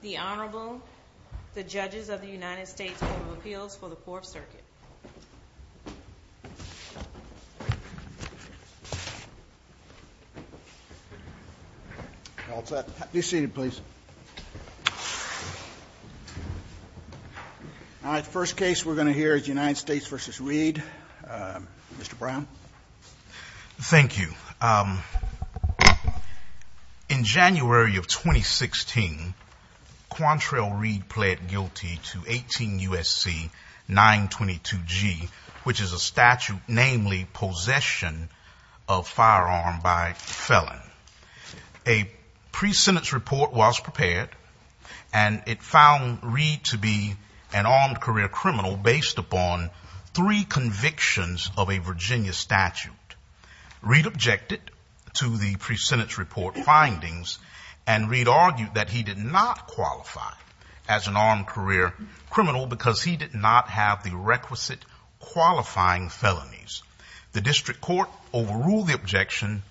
The Honorable, the Judges of the United States Court of Appeals for the 4th Circuit. All set. Be seated please. All right, the first case we're going to hear is United States v. Reid. Mr. Brown. Thank you. In January of 2016, Quantrell Reid pled guilty to 18 U.S.C. 922G, which is a statute namely possession of firearm by felon. A pre-sentence report was prepared, and it found Reid to be an armed career criminal based upon three convictions of a Virginia statute. Reid objected to the pre-sentence report findings, and Reid argued that he did not qualify as an armed career criminal because he did not have the requisite qualifying felonies. The District Court overruled the objection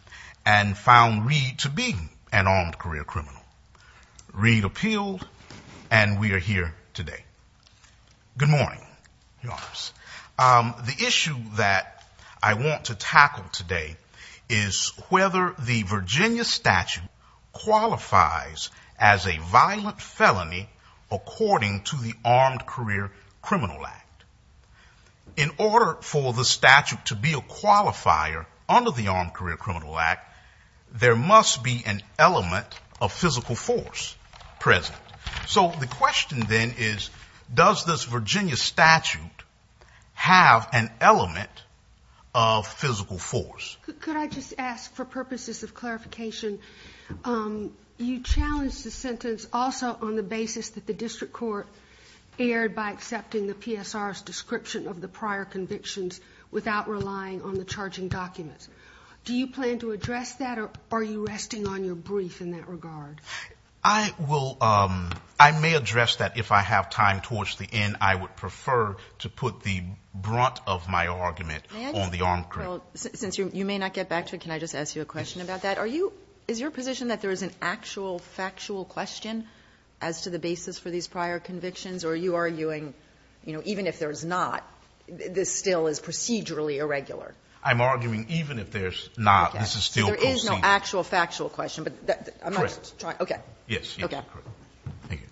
and found Reid to be an armed career criminal. Reid appealed, and we are here today. Good morning, Your Honors. The issue that I want to tackle today is whether the Virginia statute qualifies as a violent felony according to the Armed Career Criminal Act. In order for the statute to be a qualifier under the Armed Career Criminal Act, there must be an element of physical force present. So the question then is, does this Virginia statute have an element of physical force? Could I just ask, for purposes of clarification, you challenged the sentence also on the basis that the District Court erred by accepting the PSR's description of the prior convictions without relying on the charging documents. Do you plan to address that, or are you resting on your brief in that regard? I may address that if I have time towards the end. I would prefer to put the brunt of my argument on the armed career. Well, since you may not get back to it, can I just ask you a question about that? Are you – is your position that there is an actual factual question as to the basis for these prior convictions? Or are you arguing, you know, even if there's not, this still is procedurally irregular? I'm arguing even if there's not, this is still proceeding. Okay. So there is no actual factual question. Correct. Okay. Yes. Okay. Thank you.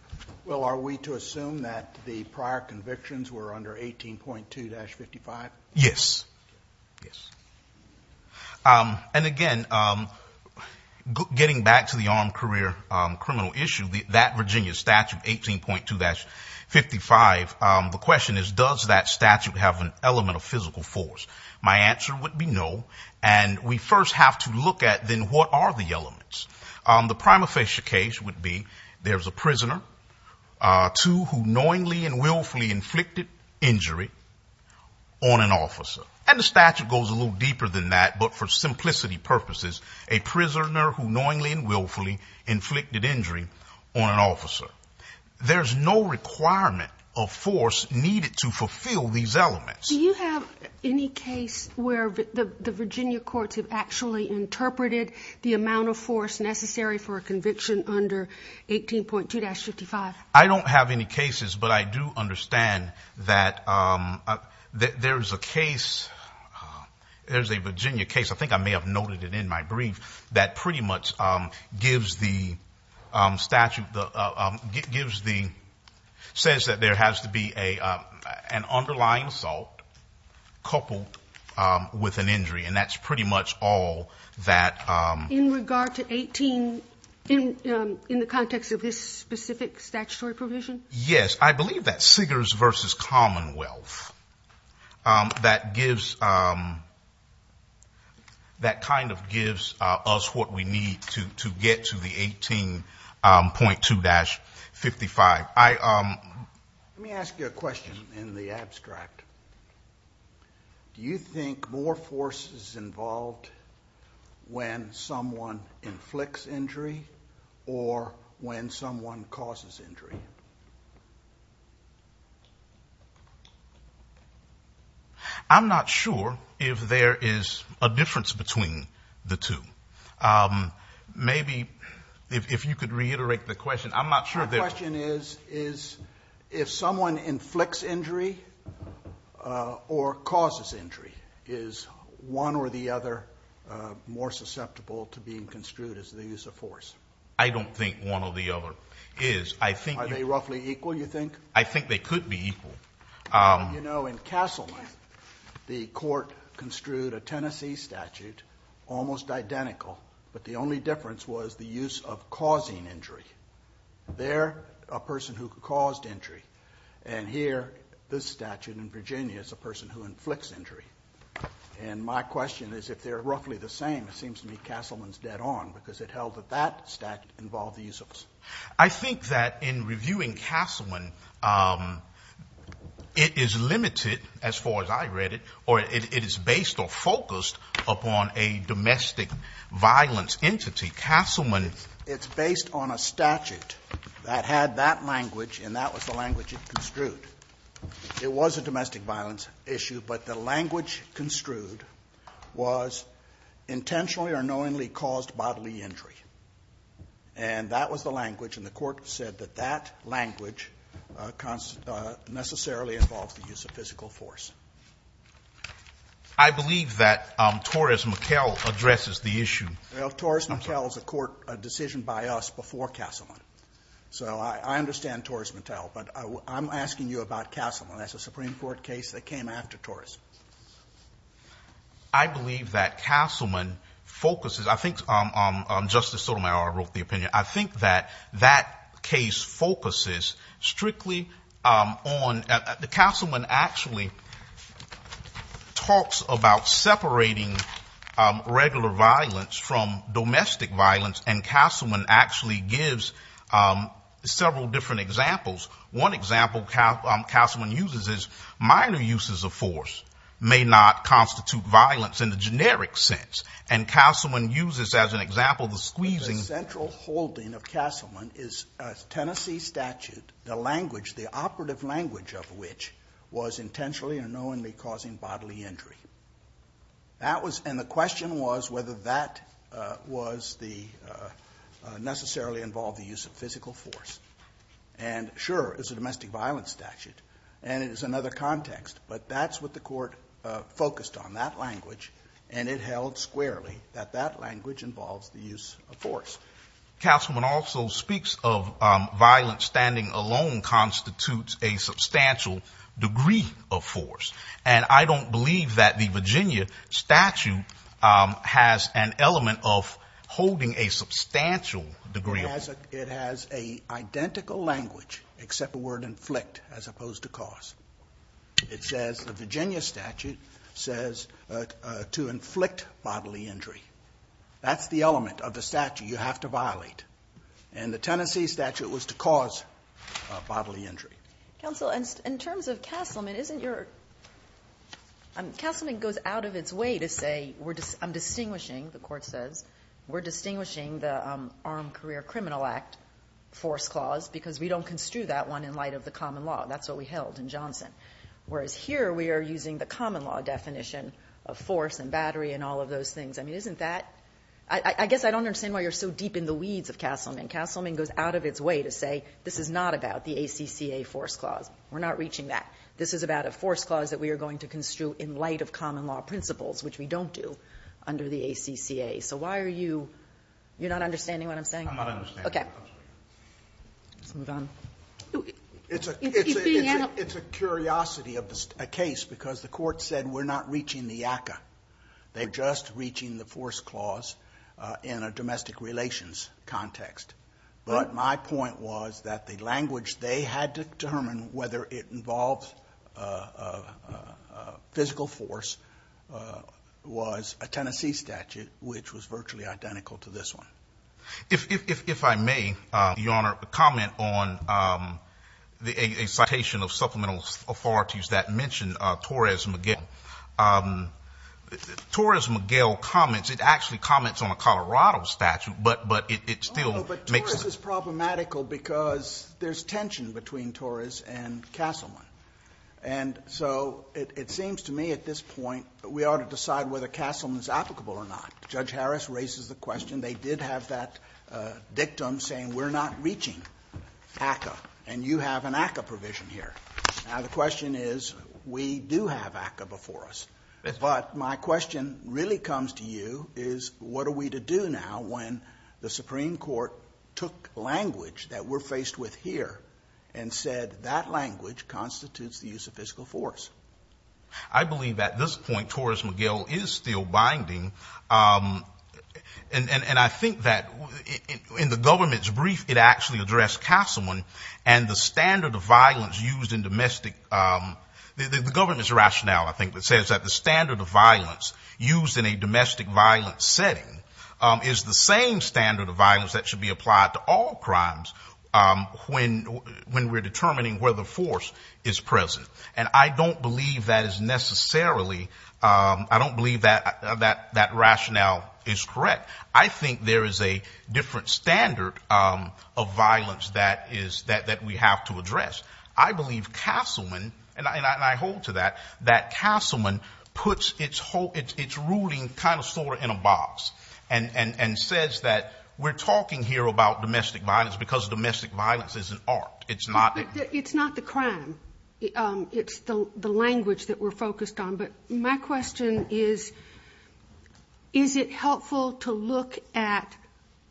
Well, are we to assume that the prior convictions were under 18.2-55? Yes. Yes. And, again, getting back to the armed career criminal issue, that Virginia statute, 18.2-55, the question is, does that statute have an element of physical force? My answer would be no. And we first have to look at, then, what are the elements? The prima facie case would be there's a prisoner, two who knowingly and willfully inflicted injury on an officer. And the statute goes a little deeper than that, but for simplicity purposes, a prisoner who knowingly and willfully inflicted injury on an officer. There's no requirement of force needed to fulfill these elements. Do you have any case where the Virginia courts have actually interpreted the amount of force necessary for a conviction under 18.2-55? I don't have any cases, but I do understand that there's a case, there's a Virginia case, I think I may have noted it in my brief, that pretty much gives the statute, gives the, says that there has to be an underlying assault coupled with an injury, and that's pretty much all that. In regard to 18, in the context of this specific statutory provision? Yes, I believe that Siggers v. Commonwealth, that gives, that kind of gives us what we need to get to the 18.2-55. Let me ask you a question in the abstract. Do you think more force is involved when someone inflicts injury or when someone causes injury? I'm not sure if there is a difference between the two. My question is if someone inflicts injury or causes injury, is one or the other more susceptible to being construed as the use of force? I don't think one or the other is. Are they roughly equal, you think? I think they could be equal. You know, in Castleman, the court construed a Tennessee statute, almost identical, but the only difference was the use of causing injury. They're a person who caused injury, and here, this statute in Virginia is a person who inflicts injury. And my question is if they're roughly the same, it seems to me Castleman's dead on, because it held that that statute involved the use of force. I think that in reviewing Castleman, it is limited as far as I read it, or it is based or focused upon a domestic violence entity. Castleman, it's based on a statute that had that language, and that was the language it construed. It was a domestic violence issue, but the language construed was intentionally or knowingly caused bodily injury. And that was the language, and the court said that that language necessarily involves the use of physical force. I believe that Torres-McKell addresses the issue. Well, Torres-McKell is a court decision by us before Castleman. So I understand Torres-McKell, but I'm asking you about Castleman. That's a Supreme Court case that came after Torres. I believe that Castleman focuses. I think Justice Sotomayor wrote the opinion. I think that that case focuses strictly on the Castleman actually talks about separating regular violence from domestic violence, and Castleman actually gives several different examples. One example Castleman uses is minor uses of force may not constitute violence in the generic sense. And Castleman uses as an example the squeezing. The central holding of Castleman is Tennessee statute, the language, the operative language of which was intentionally or knowingly causing bodily injury. And the question was whether that necessarily involved the use of physical force. And sure, it's a domestic violence statute, and it is another context, but that's what the court focused on, that language. And it held squarely that that language involves the use of force. Castleman also speaks of violence standing alone constitutes a substantial degree of force. And I don't believe that the Virginia statute has an element of holding a substantial degree of force. It has a identical language except the word inflict as opposed to cause. It says the Virginia statute says to inflict bodily injury. That's the element of the statute you have to violate. And the Tennessee statute was to cause bodily injury. Counsel, in terms of Castleman, isn't your ‑‑ Castleman goes out of its way to say I'm distinguishing, the court says, we're distinguishing the Armed Career Criminal Act force clause because we don't construe that one in light of the common law. That's what we held in Johnson. Whereas here we are using the common law definition of force and battery and all of those things. I mean, isn't that ‑‑ I guess I don't understand why you're so deep in the weeds of Castleman. Castleman goes out of its way to say this is not about the ACCA force clause. We're not reaching that. This is about a force clause that we are going to construe in light of common law principles, which we don't do under the ACCA. So why are you ‑‑ you're not understanding what I'm saying? I'm not understanding. Okay. Let's move on. It's a ‑‑ It's being ‑‑ It's a curiosity of a case because the court said we're not reaching the ACCA. They're just reaching the force clause in a domestic relations context. But my point was that the language they had to determine whether it involves physical force was a Tennessee statute, which was virtually identical to this one. If I may, Your Honor, comment on a citation of supplemental authorities that mention Torres Miguel. Torres Miguel comments. It actually comments on a Colorado statute, but it still makes ‑‑ Oh, no, but Torres is problematical because there's tension between Torres and Castleman. And so it seems to me at this point we ought to decide whether Castleman is applicable or not. Judge Harris raises the question. They did have that dictum saying we're not reaching ACCA, and you have an ACCA provision here. Now, the question is we do have ACCA before us. But my question really comes to you is what are we to do now when the Supreme Court took language that we're faced with here and said that language constitutes the use of physical force? I believe at this point Torres Miguel is still binding. And I think that in the government's brief it actually addressed Castleman and the standard of violence used in domestic ‑‑ the government's rationale, I think, that says that the standard of violence used in a domestic violence setting is the same standard of violence that should be applied to all crimes when we're determining whether force is present. And I don't believe that is necessarily ‑‑ I don't believe that that rationale is correct. I think there is a different standard of violence that we have to address. I believe Castleman, and I hold to that, that Castleman puts its ruling kind of sort of in a box and says that we're talking here about domestic violence because domestic violence is an art. It's not ‑‑ But it's not the crime. It's the language that we're focused on. But my question is, is it helpful to look at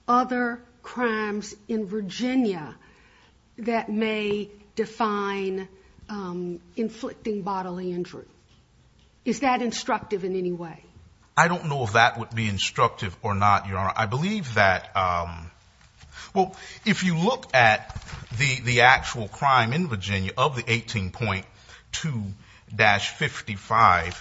other crimes in Virginia that may define inflicting bodily injury? Is that instructive in any way? I don't know if that would be instructive or not, Your Honor. I believe that ‑‑ well, if you look at the actual crime in Virginia of the 18.2-55,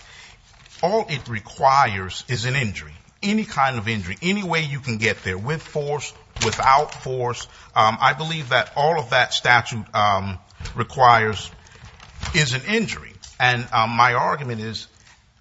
all it requires is an injury, any kind of injury, any way you can get there, with force, without force. I believe that all of that statute requires is an injury. And my argument is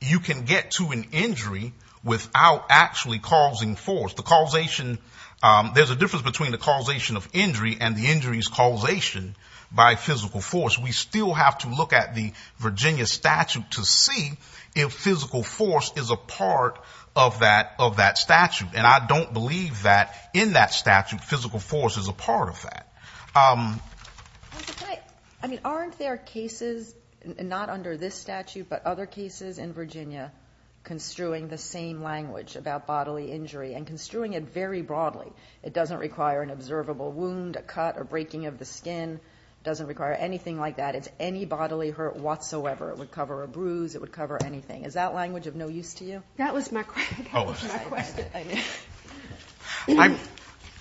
you can get to an injury without actually causing force. The causation ‑‑ there's a difference between the causation of injury and the injury's causation by physical force. We still have to look at the Virginia statute to see if physical force is a part of that statute. And I don't believe that in that statute physical force is a part of that. I mean, aren't there cases, not under this statute, but other cases in Virginia construing the same language about bodily injury and construing it very broadly? It doesn't require an observable wound, a cut or breaking of the skin. It doesn't require anything like that. It's any bodily hurt whatsoever. It would cover a bruise. It would cover anything. Is that language of no use to you? That was my question.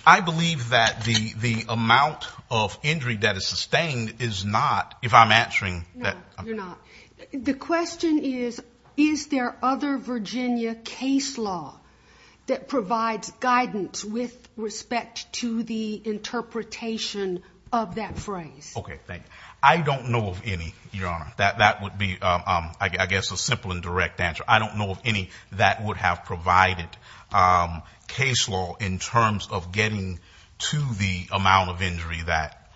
I believe that the amount of injury that is sustained is not, if I'm answering that. No, you're not. The question is, is there other Virginia case law that provides guidance with respect to the interpretation of that phrase? Okay, thank you. I don't know of any, Your Honor. That would be, I guess, a simple and direct answer. I don't know of any that would have provided case law in terms of getting to the amount of injury that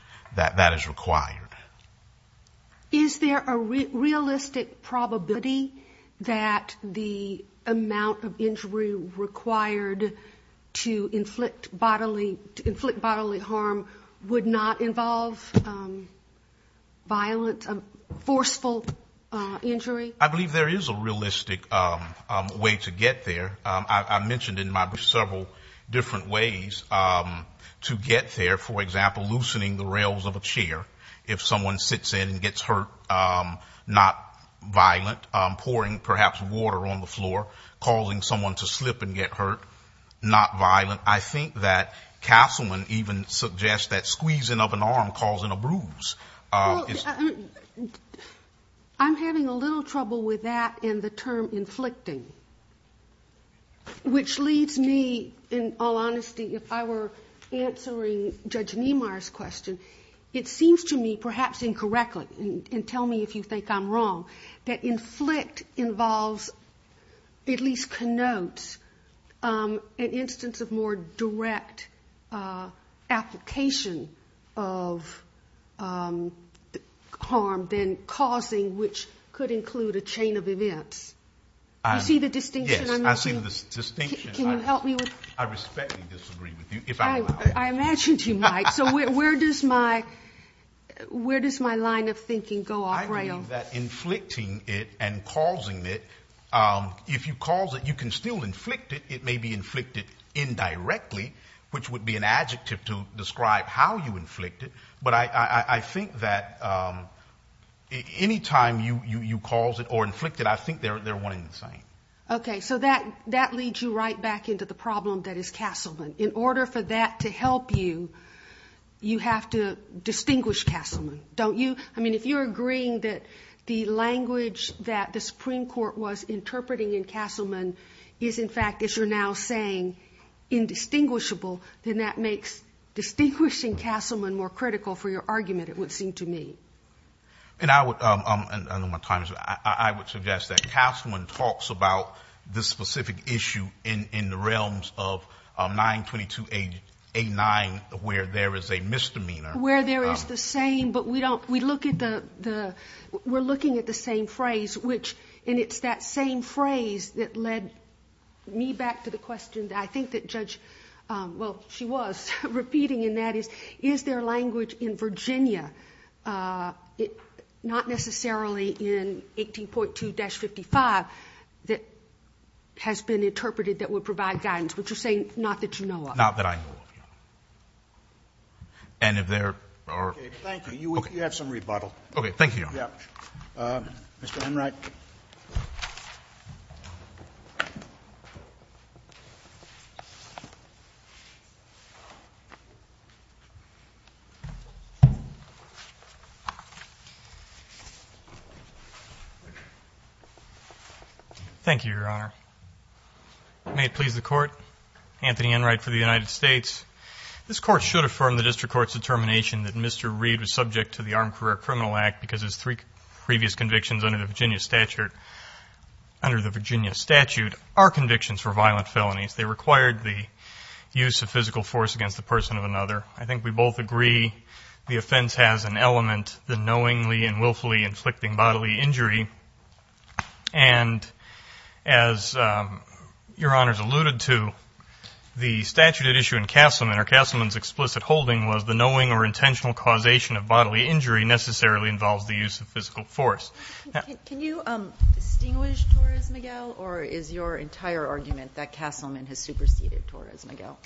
is required. Is there a realistic probability that the amount of injury required to inflict bodily harm would not involve violence, forceful injury? I believe there is a realistic way to get there. I mentioned in my brief several different ways to get there. For example, loosening the rails of a chair if someone sits in and gets hurt, not violent. Pouring, perhaps, water on the floor, causing someone to slip and get hurt, not violent. I think that Castleman even suggests that squeezing of an arm causing a bruise. Well, I'm having a little trouble with that and the term inflicting, which leads me, in all honesty, if I were answering Judge Niemeyer's question, it seems to me, perhaps incorrectly, and tell me if you think I'm wrong, that inflict involves, at least connotes, an instance of more direct application of harm than causing, which could include a chain of events. Do you see the distinction I'm making? Yes, I see the distinction. Can you help me with it? I respectfully disagree with you, if I'm allowed to. I imagined you might. So where does my line of thinking go off rail? I believe that inflicting it and causing it, if you cause it, you can still inflict it. It may be inflicted indirectly, which would be an adjective to describe how you inflict it, but I think that any time you cause it or inflict it, I think they're one and the same. Okay, so that leads you right back into the problem that is Castleman. In order for that to help you, you have to distinguish Castleman, don't you? I mean, if you're agreeing that the language that the Supreme Court was interpreting in Castleman is, in fact, as you're now saying, indistinguishable, then that makes distinguishing Castleman more critical for your argument, it would seem to me. And I would, I know my time is up, I would suggest that Castleman talks about this specific issue in the realms of 922A9, where there is a misdemeanor. Where there is the same, but we don't, we look at the, we're looking at the same phrase, which, and it's that same phrase that led me back to the question that I think that Judge, well, she was repeating, and that is, is there language in Virginia, not necessarily in 18.2-55, that has been interpreted that would provide guidance, which you're saying not that you know of. Not that I know of, no. And if there are... Okay, thank you. You have some rebuttal. Okay, thank you, Your Honor. Yeah. Mr. Enright. Thank you, Your Honor. May it please the Court. Anthony Enright for the United States. This Court should affirm the District Court's determination that Mr. Reed was subject to the Armed Career Criminal Act because his three previous convictions under the Virginia statute are convictions for violent felonies. They required the use of physical force against the person of another. I think we both agree the offense has an element, the knowingly and willfully inflicting bodily injury. And as Your Honor's alluded to, the statute at issue in Castleman, or Castleman's explicit holding was the knowing or intentional causation of bodily injury necessarily involves the use of physical force. Can you distinguish Torres-Miguel, or is your entire argument that Castleman has superseded Torres-Miguel?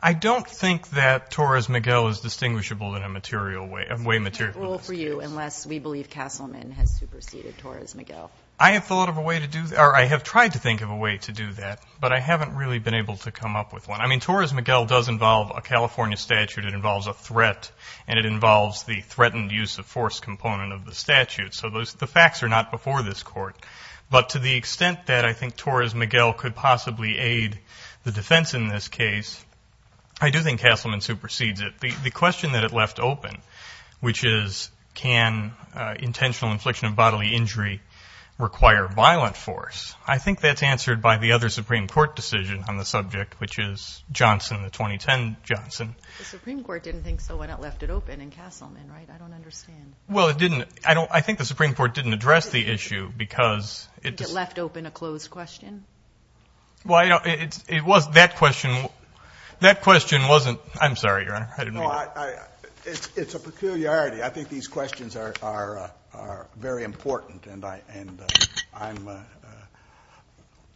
I don't think that Torres-Miguel is distinguishable in a material way. Unless we believe Castleman has superseded Torres-Miguel. I have thought of a way to do that, or I have tried to think of a way to do that, but I haven't really been able to come up with one. I mean, Torres-Miguel does involve a California statute. It involves a threat, and it involves the threatened use of force component of the statute. So the facts are not before this Court. But to the extent that I think Torres-Miguel could possibly aid the defense in this case, I do think Castleman supersedes it. The question that it left open, which is, can intentional infliction of bodily injury require violent force, I think that's answered by the other Supreme Court decision on the subject, which is Johnson, the 2010 Johnson. The Supreme Court didn't think so when it left it open in Castleman, right? I don't understand. Well, it didn't. I think the Supreme Court didn't address the issue because it just. It left open a closed question? Well, it was that question. That question wasn't. I'm sorry, Your Honor. I didn't mean to. It's a peculiarity. I think these questions are very important, and I'm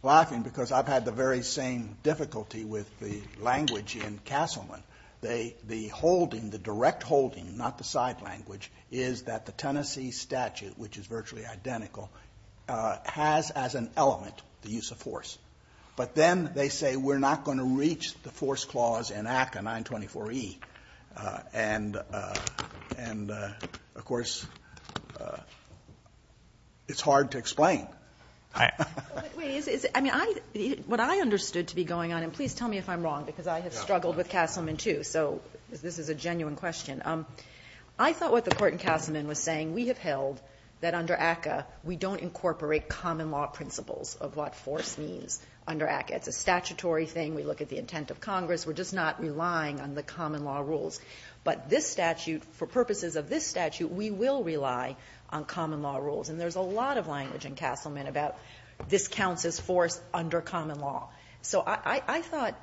laughing because I've had the very same difficulty with the language in Castleman. The holding, the direct holding, not the side language, is that the Tennessee statute, which is virtually identical, has as an element the use of force. But then they say we're not going to reach the force clause in ACCA 924E. And, of course, it's hard to explain. I mean, what I understood to be going on, and please tell me if I'm wrong, because I have struggled with Castleman, too, so this is a genuine question. I thought what the court in Castleman was saying, we have held that under ACCA we don't incorporate common law principles of what force means under ACCA. It's a statutory thing. We look at the intent of Congress. We're just not relying on the common law rules. But this statute, for purposes of this statute, we will rely on common law rules. And there's a lot of language in Castleman about this counts as force under common law. So I thought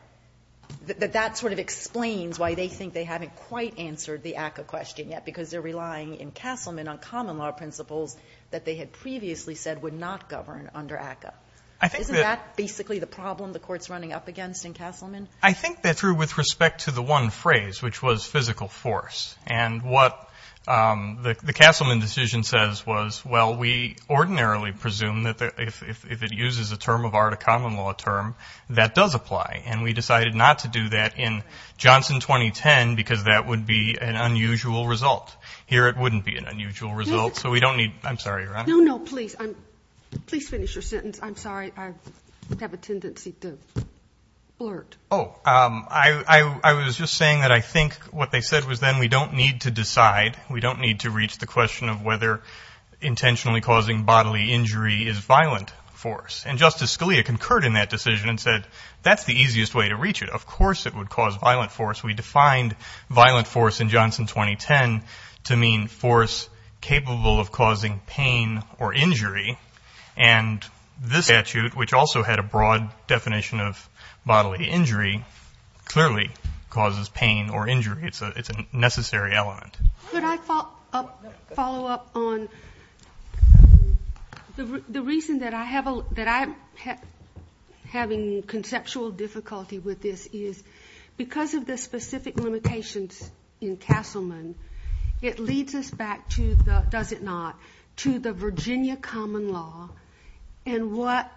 that that sort of explains why they think they haven't quite answered the ACCA question yet, because they're relying in Castleman on common law principles that they had previously said would not govern under ACCA. Isn't that basically the problem the court's running up against in Castleman? I think that's true with respect to the one phrase, which was physical force. And what the Castleman decision says was, well, we ordinarily presume that if it uses a term of art, a common law term, that does apply. And we decided not to do that in Johnson 2010 because that would be an unusual result. Here it wouldn't be an unusual result. So we don't need, I'm sorry, Your Honor. No, no, please. Please finish your sentence. I'm sorry. I have a tendency to blurt. Oh, I was just saying that I think what they said was then we don't need to decide, we don't need to reach the question of whether intentionally causing bodily injury is violent force. And Justice Scalia concurred in that decision and said, that's the easiest way to reach it. Of course it would cause violent force. We defined violent force in Johnson 2010 to mean force capable of causing pain or injury. And this statute, which also had a broad definition of bodily injury, clearly causes pain or injury. It's a necessary element. Could I follow up on the reason that I'm having conceptual difficulty with this is because of the specific limitations in Castleman, it leads us back to the, does it not, to the Virginia common law, and what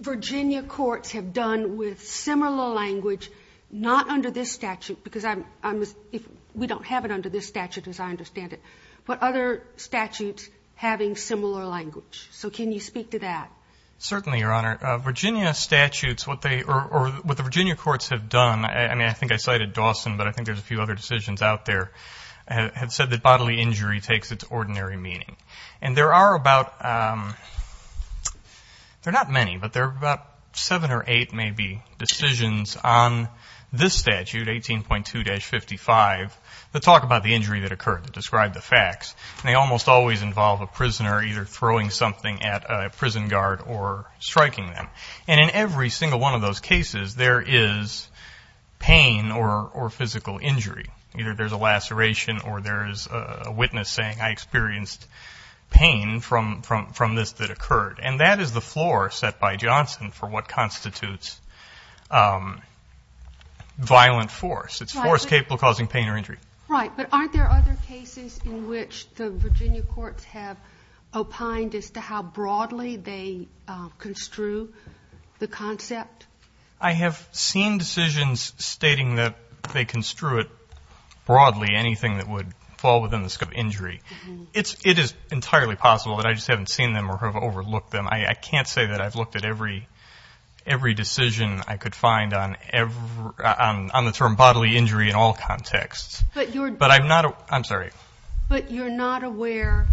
Virginia courts have done with similar language, not under this statute because we don't have it under this statute as I understand it, but other statutes having similar language. So can you speak to that? Certainly, Your Honor. Virginia statutes, what they, or what the Virginia courts have done, I mean, I think I cited Dawson, but I think there's a few other decisions out there have said that bodily injury takes its ordinary meaning. And there are about, there are not many, but there are about seven or eight maybe decisions on this statute, 18.2-55 that talk about the injury that occurred to describe the facts. And they almost always involve a prisoner either throwing something at a prison guard or striking them. And in every single one of those cases, there is pain or physical injury. Either there's a laceration or there's a witness saying, I experienced pain from this that occurred. And that is the floor set by Johnson for what constitutes violent force. It's force capable of causing pain or injury. Right. But aren't there other cases in which the Virginia courts have opined as to how broadly they construe the concept? I have seen decisions stating that they construe it broadly, anything that would fall within the scope of injury. It is entirely possible, but I just haven't seen them or have overlooked them. I can't say that I've looked at every decision I could find on the term bodily injury in all contexts. But I'm not, I'm sorry. But you're not aware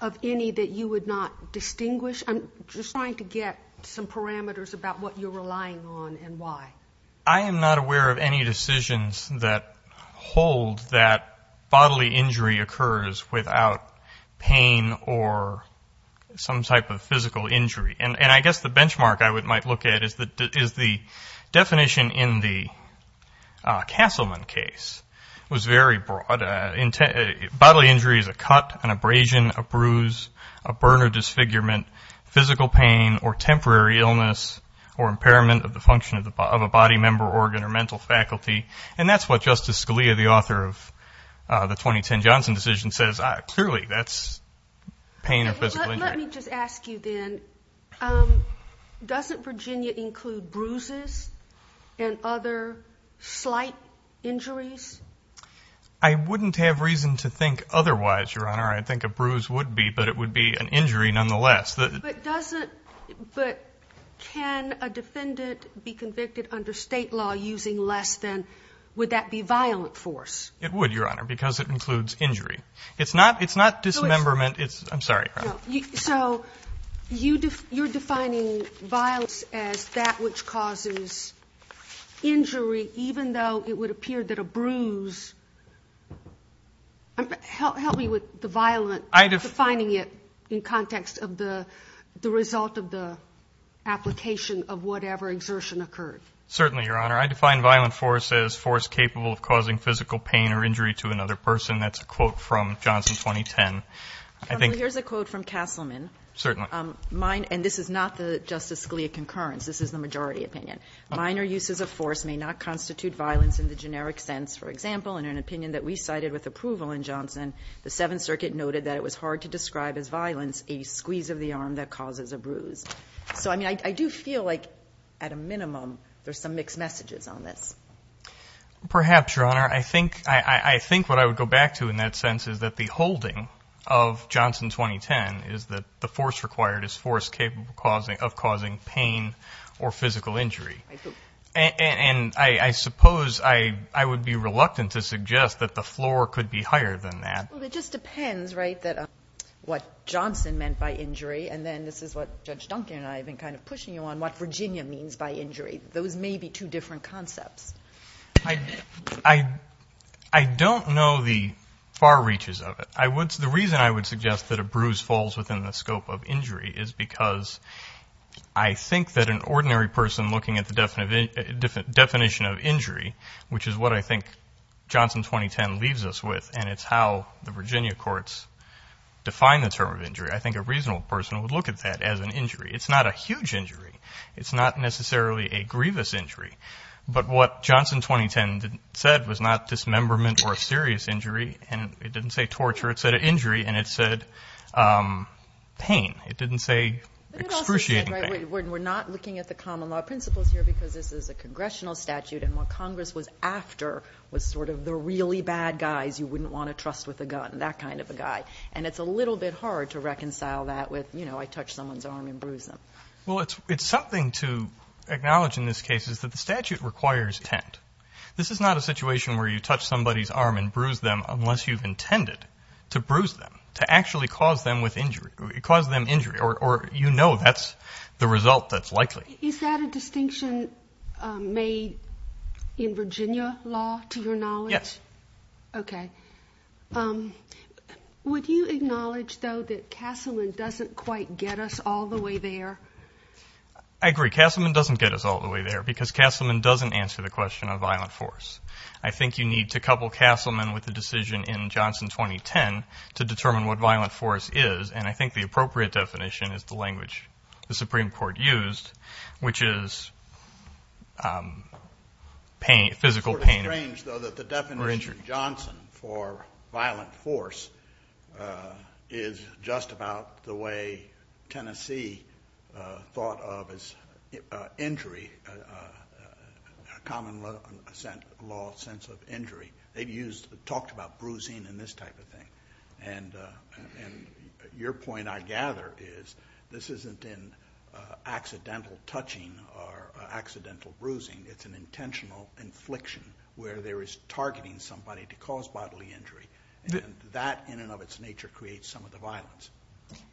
of any that you would not distinguish? I'm just trying to get some parameters about what you're relying on and why. I am not aware of any decisions that hold that bodily injury occurs without pain or some type of physical injury. And I guess the benchmark I might look at is the definition in the Castleman case. It was very broad. Bodily injury is a cut, an abrasion, a bruise, a burn or disfigurement, physical pain or temporary illness or impairment of the function of a body member, organ or mental faculty. And that's what Justice Scalia, the author of the 2010 Johnson decision, says clearly that's pain or physical injury. Let me just ask you then, doesn't Virginia include bruises and other slight injuries? I wouldn't have reason to think otherwise, Your Honor. I think a bruise would be, but it would be an injury nonetheless. But can a defendant be convicted under state law using less than, would that be violent force? It would, Your Honor, because it includes injury. It's not dismemberment. I'm sorry. So you're defining violence as that which causes injury, even though it would appear that a bruise, help me with the violent, defining it in context of the result of the application of whatever exertion occurred. Certainly, Your Honor. I define violent force as force capable of causing physical pain or injury to another person. That's a quote from Johnson 2010. Counsel, here's a quote from Castleman. Certainly. And this is not the Justice Scalia concurrence. This is the majority opinion. Minor uses of force may not constitute violence in the generic sense. For example, in an opinion that we cited with approval in Johnson, the Seventh Circuit noted that it was hard to describe as violence a squeeze of the arm that causes a bruise. So, I mean, I do feel like at a minimum there's some mixed messages on this. Perhaps, Your Honor. I think what I would go back to in that sense is that the holding of Johnson 2010 is that the force required is force capable of causing pain or physical injury. I do. And I suppose I would be reluctant to suggest that the floor could be higher than that. Well, it just depends, right, what Johnson meant by injury, and then this is what Judge Duncan and I have been kind of pushing you on, what Virginia means by injury. Those may be two different concepts. I don't know the far reaches of it. The reason I would suggest that a bruise falls within the scope of injury is because I think that an ordinary person looking at the definition of injury, which is what I think Johnson 2010 leaves us with, and it's how the Virginia courts define the term of injury, I think a reasonable person would look at that as an injury. It's not a huge injury. It's not necessarily a grievous injury. But what Johnson 2010 said was not dismemberment or a serious injury. It didn't say torture. It said injury. And it said pain. It didn't say excruciating pain. We're not looking at the common law principles here because this is a congressional statute and what Congress was after was sort of the really bad guys you wouldn't want to trust with a gun, that kind of a guy. And it's a little bit hard to reconcile that with, you know, I touched someone's arm and bruised them. Well, it's something to acknowledge in this case is that the statute requires intent. This is not a situation where you touch somebody's arm and bruise them unless you've intended to bruise them, to actually cause them injury, or you know that's the result that's likely. Is that a distinction made in Virginia law, to your knowledge? Yes. Okay. Would you acknowledge, though, that Castleman doesn't quite get us all the way there? I agree. Castleman doesn't get us all the way there because Castleman doesn't answer the question of violent force. I think you need to couple Castleman with the decision in Johnson 2010 to determine what violent force is, and I think the appropriate definition is the language the Supreme Court used, which is physical pain or injury. The definition in Johnson for violent force is just about the way Tennessee thought of as injury, common law sense of injury. They've talked about bruising and this type of thing. And your point, I gather, is this isn't an accidental touching or accidental bruising. It's an intentional infliction where there is targeting somebody to cause bodily injury. That, in and of its nature, creates some of the violence.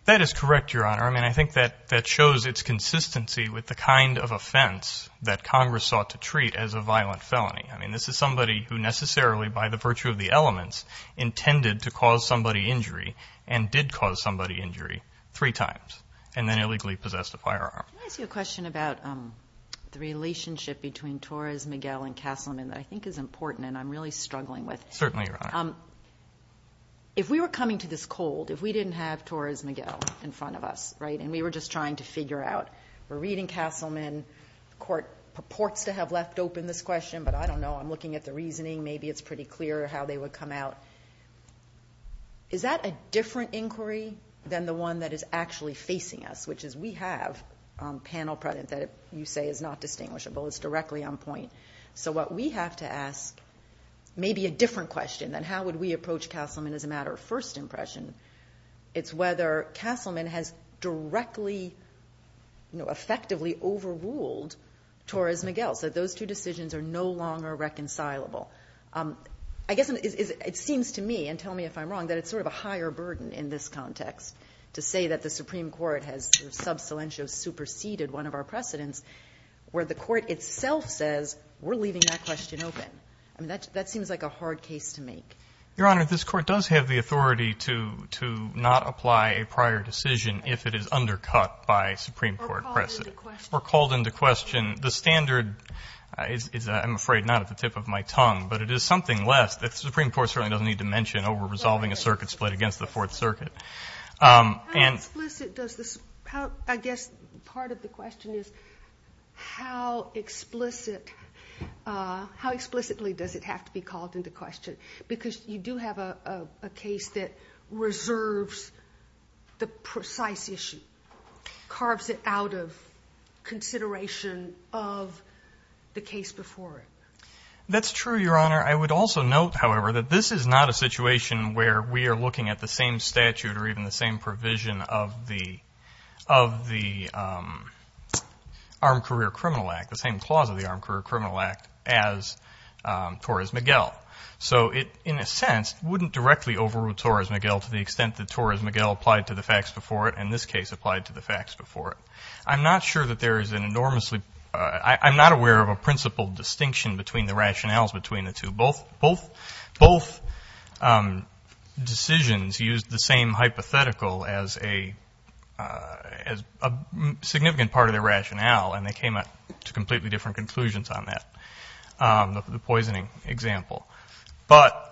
That is correct, Your Honor. I mean, I think that shows its consistency with the kind of offense that Congress sought to treat as a violent felony. I mean, this is somebody who necessarily, by the virtue of the elements, intended to cause somebody injury and did cause somebody injury three times and then illegally possessed a firearm. Can I ask you a question about the relationship between Torres Miguel and Castleman that I think is important and I'm really struggling with? Certainly, Your Honor. If we were coming to this cold, if we didn't have Torres Miguel in front of us, and we were just trying to figure out, we're reading Castleman. The Court purports to have left open this question, but I don't know. I'm looking at the reasoning. Maybe it's pretty clear how they would come out. Is that a different inquiry than the one that is actually facing us, which is we have panel precedent that you say is not distinguishable. It's directly on point. So what we have to ask may be a different question than how would we approach Castleman as a matter of first impression. It's whether Castleman has directly, effectively overruled Torres Miguel. So those two decisions are no longer reconcilable. I guess it seems to me, and tell me if I'm wrong, that it's sort of a higher burden in this context to say that the Supreme Court has sub silentio superseded one of our precedents, where the Court itself says we're leaving that question open. I mean, that seems like a hard case to make. Your Honor, this Court does have the authority to not apply a prior decision if it is undercut by Supreme Court precedent. Or called into question. Or called into question. The standard is, I'm afraid, not at the tip of my tongue, but it is something less that the Supreme Court certainly doesn't need to mention over resolving a circuit split against the Fourth Circuit. How explicit does this, I guess part of the question is, how explicitly does it have to be called into question? Because you do have a case that reserves the precise issue. Carves it out of consideration of the case before it. That's true, Your Honor. I would also note, however, that this is not a situation where we are looking at the same statute or even the same provision of the Armed Career Criminal Act, the same clause of the Armed Career Criminal Act as Torres-Miguel. So it, in a sense, wouldn't directly overrule Torres-Miguel to the extent that Torres-Miguel applied to the facts before it, and this case applied to the facts before it. I'm not sure that there is an enormously, I'm not aware of a principled distinction between the rationales between the two. Both decisions used the same hypothetical as a significant part of their rationale, and they came to completely different conclusions on that, the poisoning example. But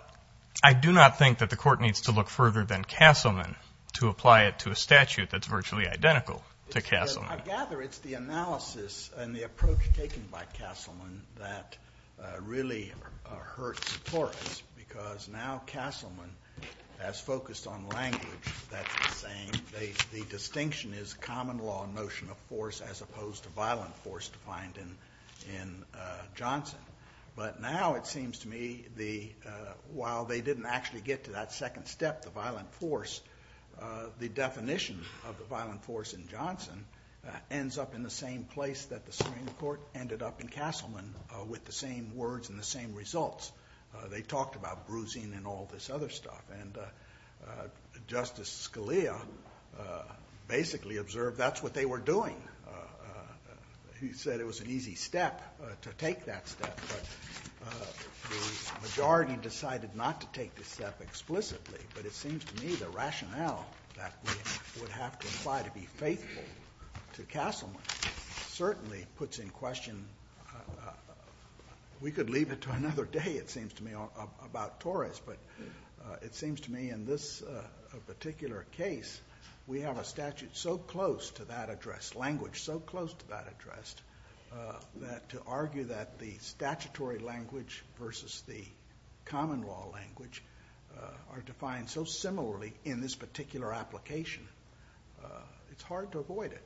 I do not think that the Court needs to look further than Castleman to apply it to a statute that's virtually identical to Castleman. I gather it's the analysis and the approach taken by Castleman that really hurts Torres, because now Castleman has focused on language that's the same. The distinction is common law notion of force as opposed to violent force defined in Johnson. But now it seems to me while they didn't actually get to that second step, the violent force, the definition of the violent force in Johnson ends up in the same place that the Supreme Court ended up in Castleman with the same words and the same results. They talked about bruising and all this other stuff, and Justice Scalia basically observed that's what they were doing. He said it was an easy step to take that step, but the majority decided not to take this step explicitly. But it seems to me the rationale that we would have to apply to be faithful to Castleman certainly puts in question, we could leave it to another day it seems to me about Torres, but it seems to me in this particular case we have a statute so close to that address, language so close to that address, that to argue that the statutory language versus the common law language are defined so similarly in this particular application, it's hard to avoid it.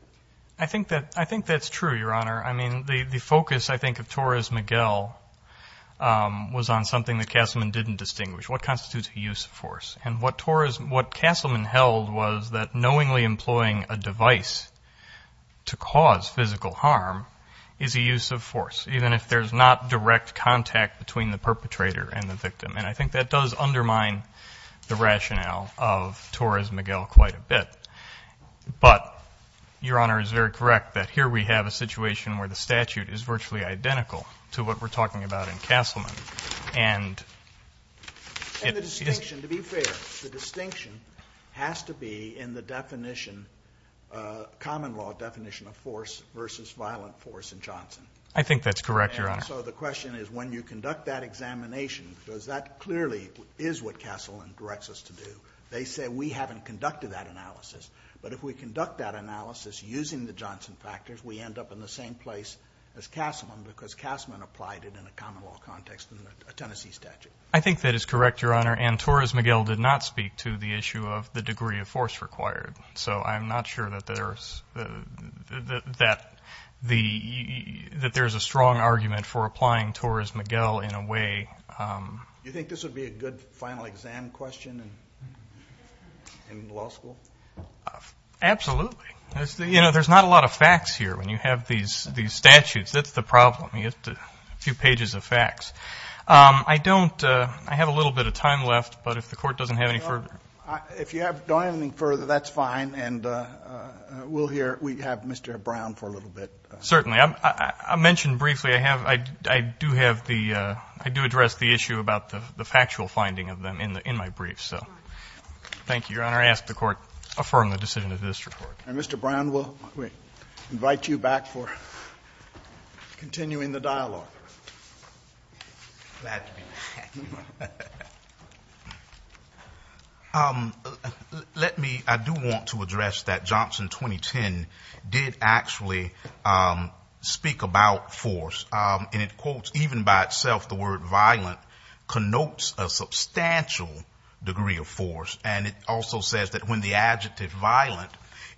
I think that's true, Your Honor. I mean the focus I think of Torres-Miguel was on something that Castleman didn't distinguish. What constitutes a use of force? And what Castleman held was that knowingly employing a device to cause physical harm is a use of force, even if there's not direct contact between the perpetrator and the victim. And I think that does undermine the rationale of Torres-Miguel quite a bit. But Your Honor is very correct that here we have a situation where the statute is virtually identical to what we're talking about in Castleman. And the distinction, to be fair, the distinction has to be in the definition, common law definition of force versus violent force in Johnson. I think that's correct, Your Honor. So the question is when you conduct that examination, because that clearly is what Castleman directs us to do, they say we haven't conducted that analysis. But if we conduct that analysis using the Johnson factors, we end up in the same place as Castleman because Castleman applied it in a common law context in the Tennessee statute. I think that is correct, Your Honor. And Torres-Miguel did not speak to the issue of the degree of force required. So I'm not sure that there's a strong argument for applying Torres-Miguel in a way. Do you think this would be a good final exam question in law school? Absolutely. You know, there's not a lot of facts here when you have these statutes. That's the problem. You get a few pages of facts. I don't ‑‑ I have a little bit of time left, but if the Court doesn't have any further. If you don't have anything further, that's fine. And we'll hear ‑‑ we have Mr. Brown for a little bit. Certainly. I mentioned briefly I have ‑‑ I do have the ‑‑ I do address the issue about the factual finding of them in my brief. So thank you, Your Honor. I ask the Court affirm the decision of this report. And Mr. Brown, we'll invite you back for continuing the dialogue. Glad to be back. Let me ‑‑ I do want to address that Johnson 2010 did actually speak about force. And it quotes, even by itself, the word violent connotes a substantial degree of force. And it also says that when the adjective violent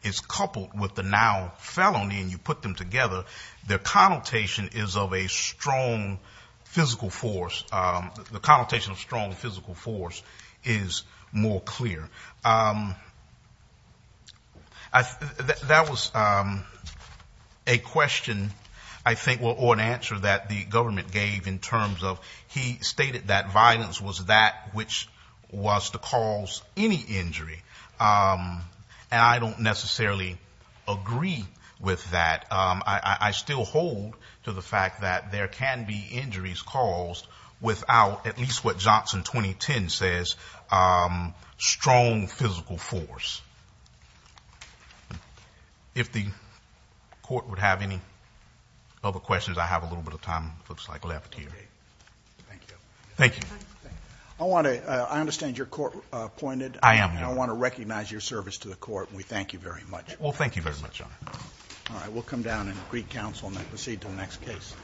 is coupled with the noun felony and you put them together, the connotation is of a strong physical force. The connotation of strong physical force is more clear. That was a question, I think, or an answer that the government gave in terms of he stated that violence was that which was to cause any injury. And I don't necessarily agree with that. I still hold to the fact that there can be injuries caused without at least what Johnson 2010 says, strong physical force. If the Court would have any other questions, I have a little bit of time, it looks like, left here. Thank you. Thank you. I want to ‑‑ I understand you're court appointed. I am, Your Honor. I want to recognize your service to the Court and we thank you very much. Well, thank you very much, Your Honor. All right. We'll come down and greet counsel and then proceed to the next case.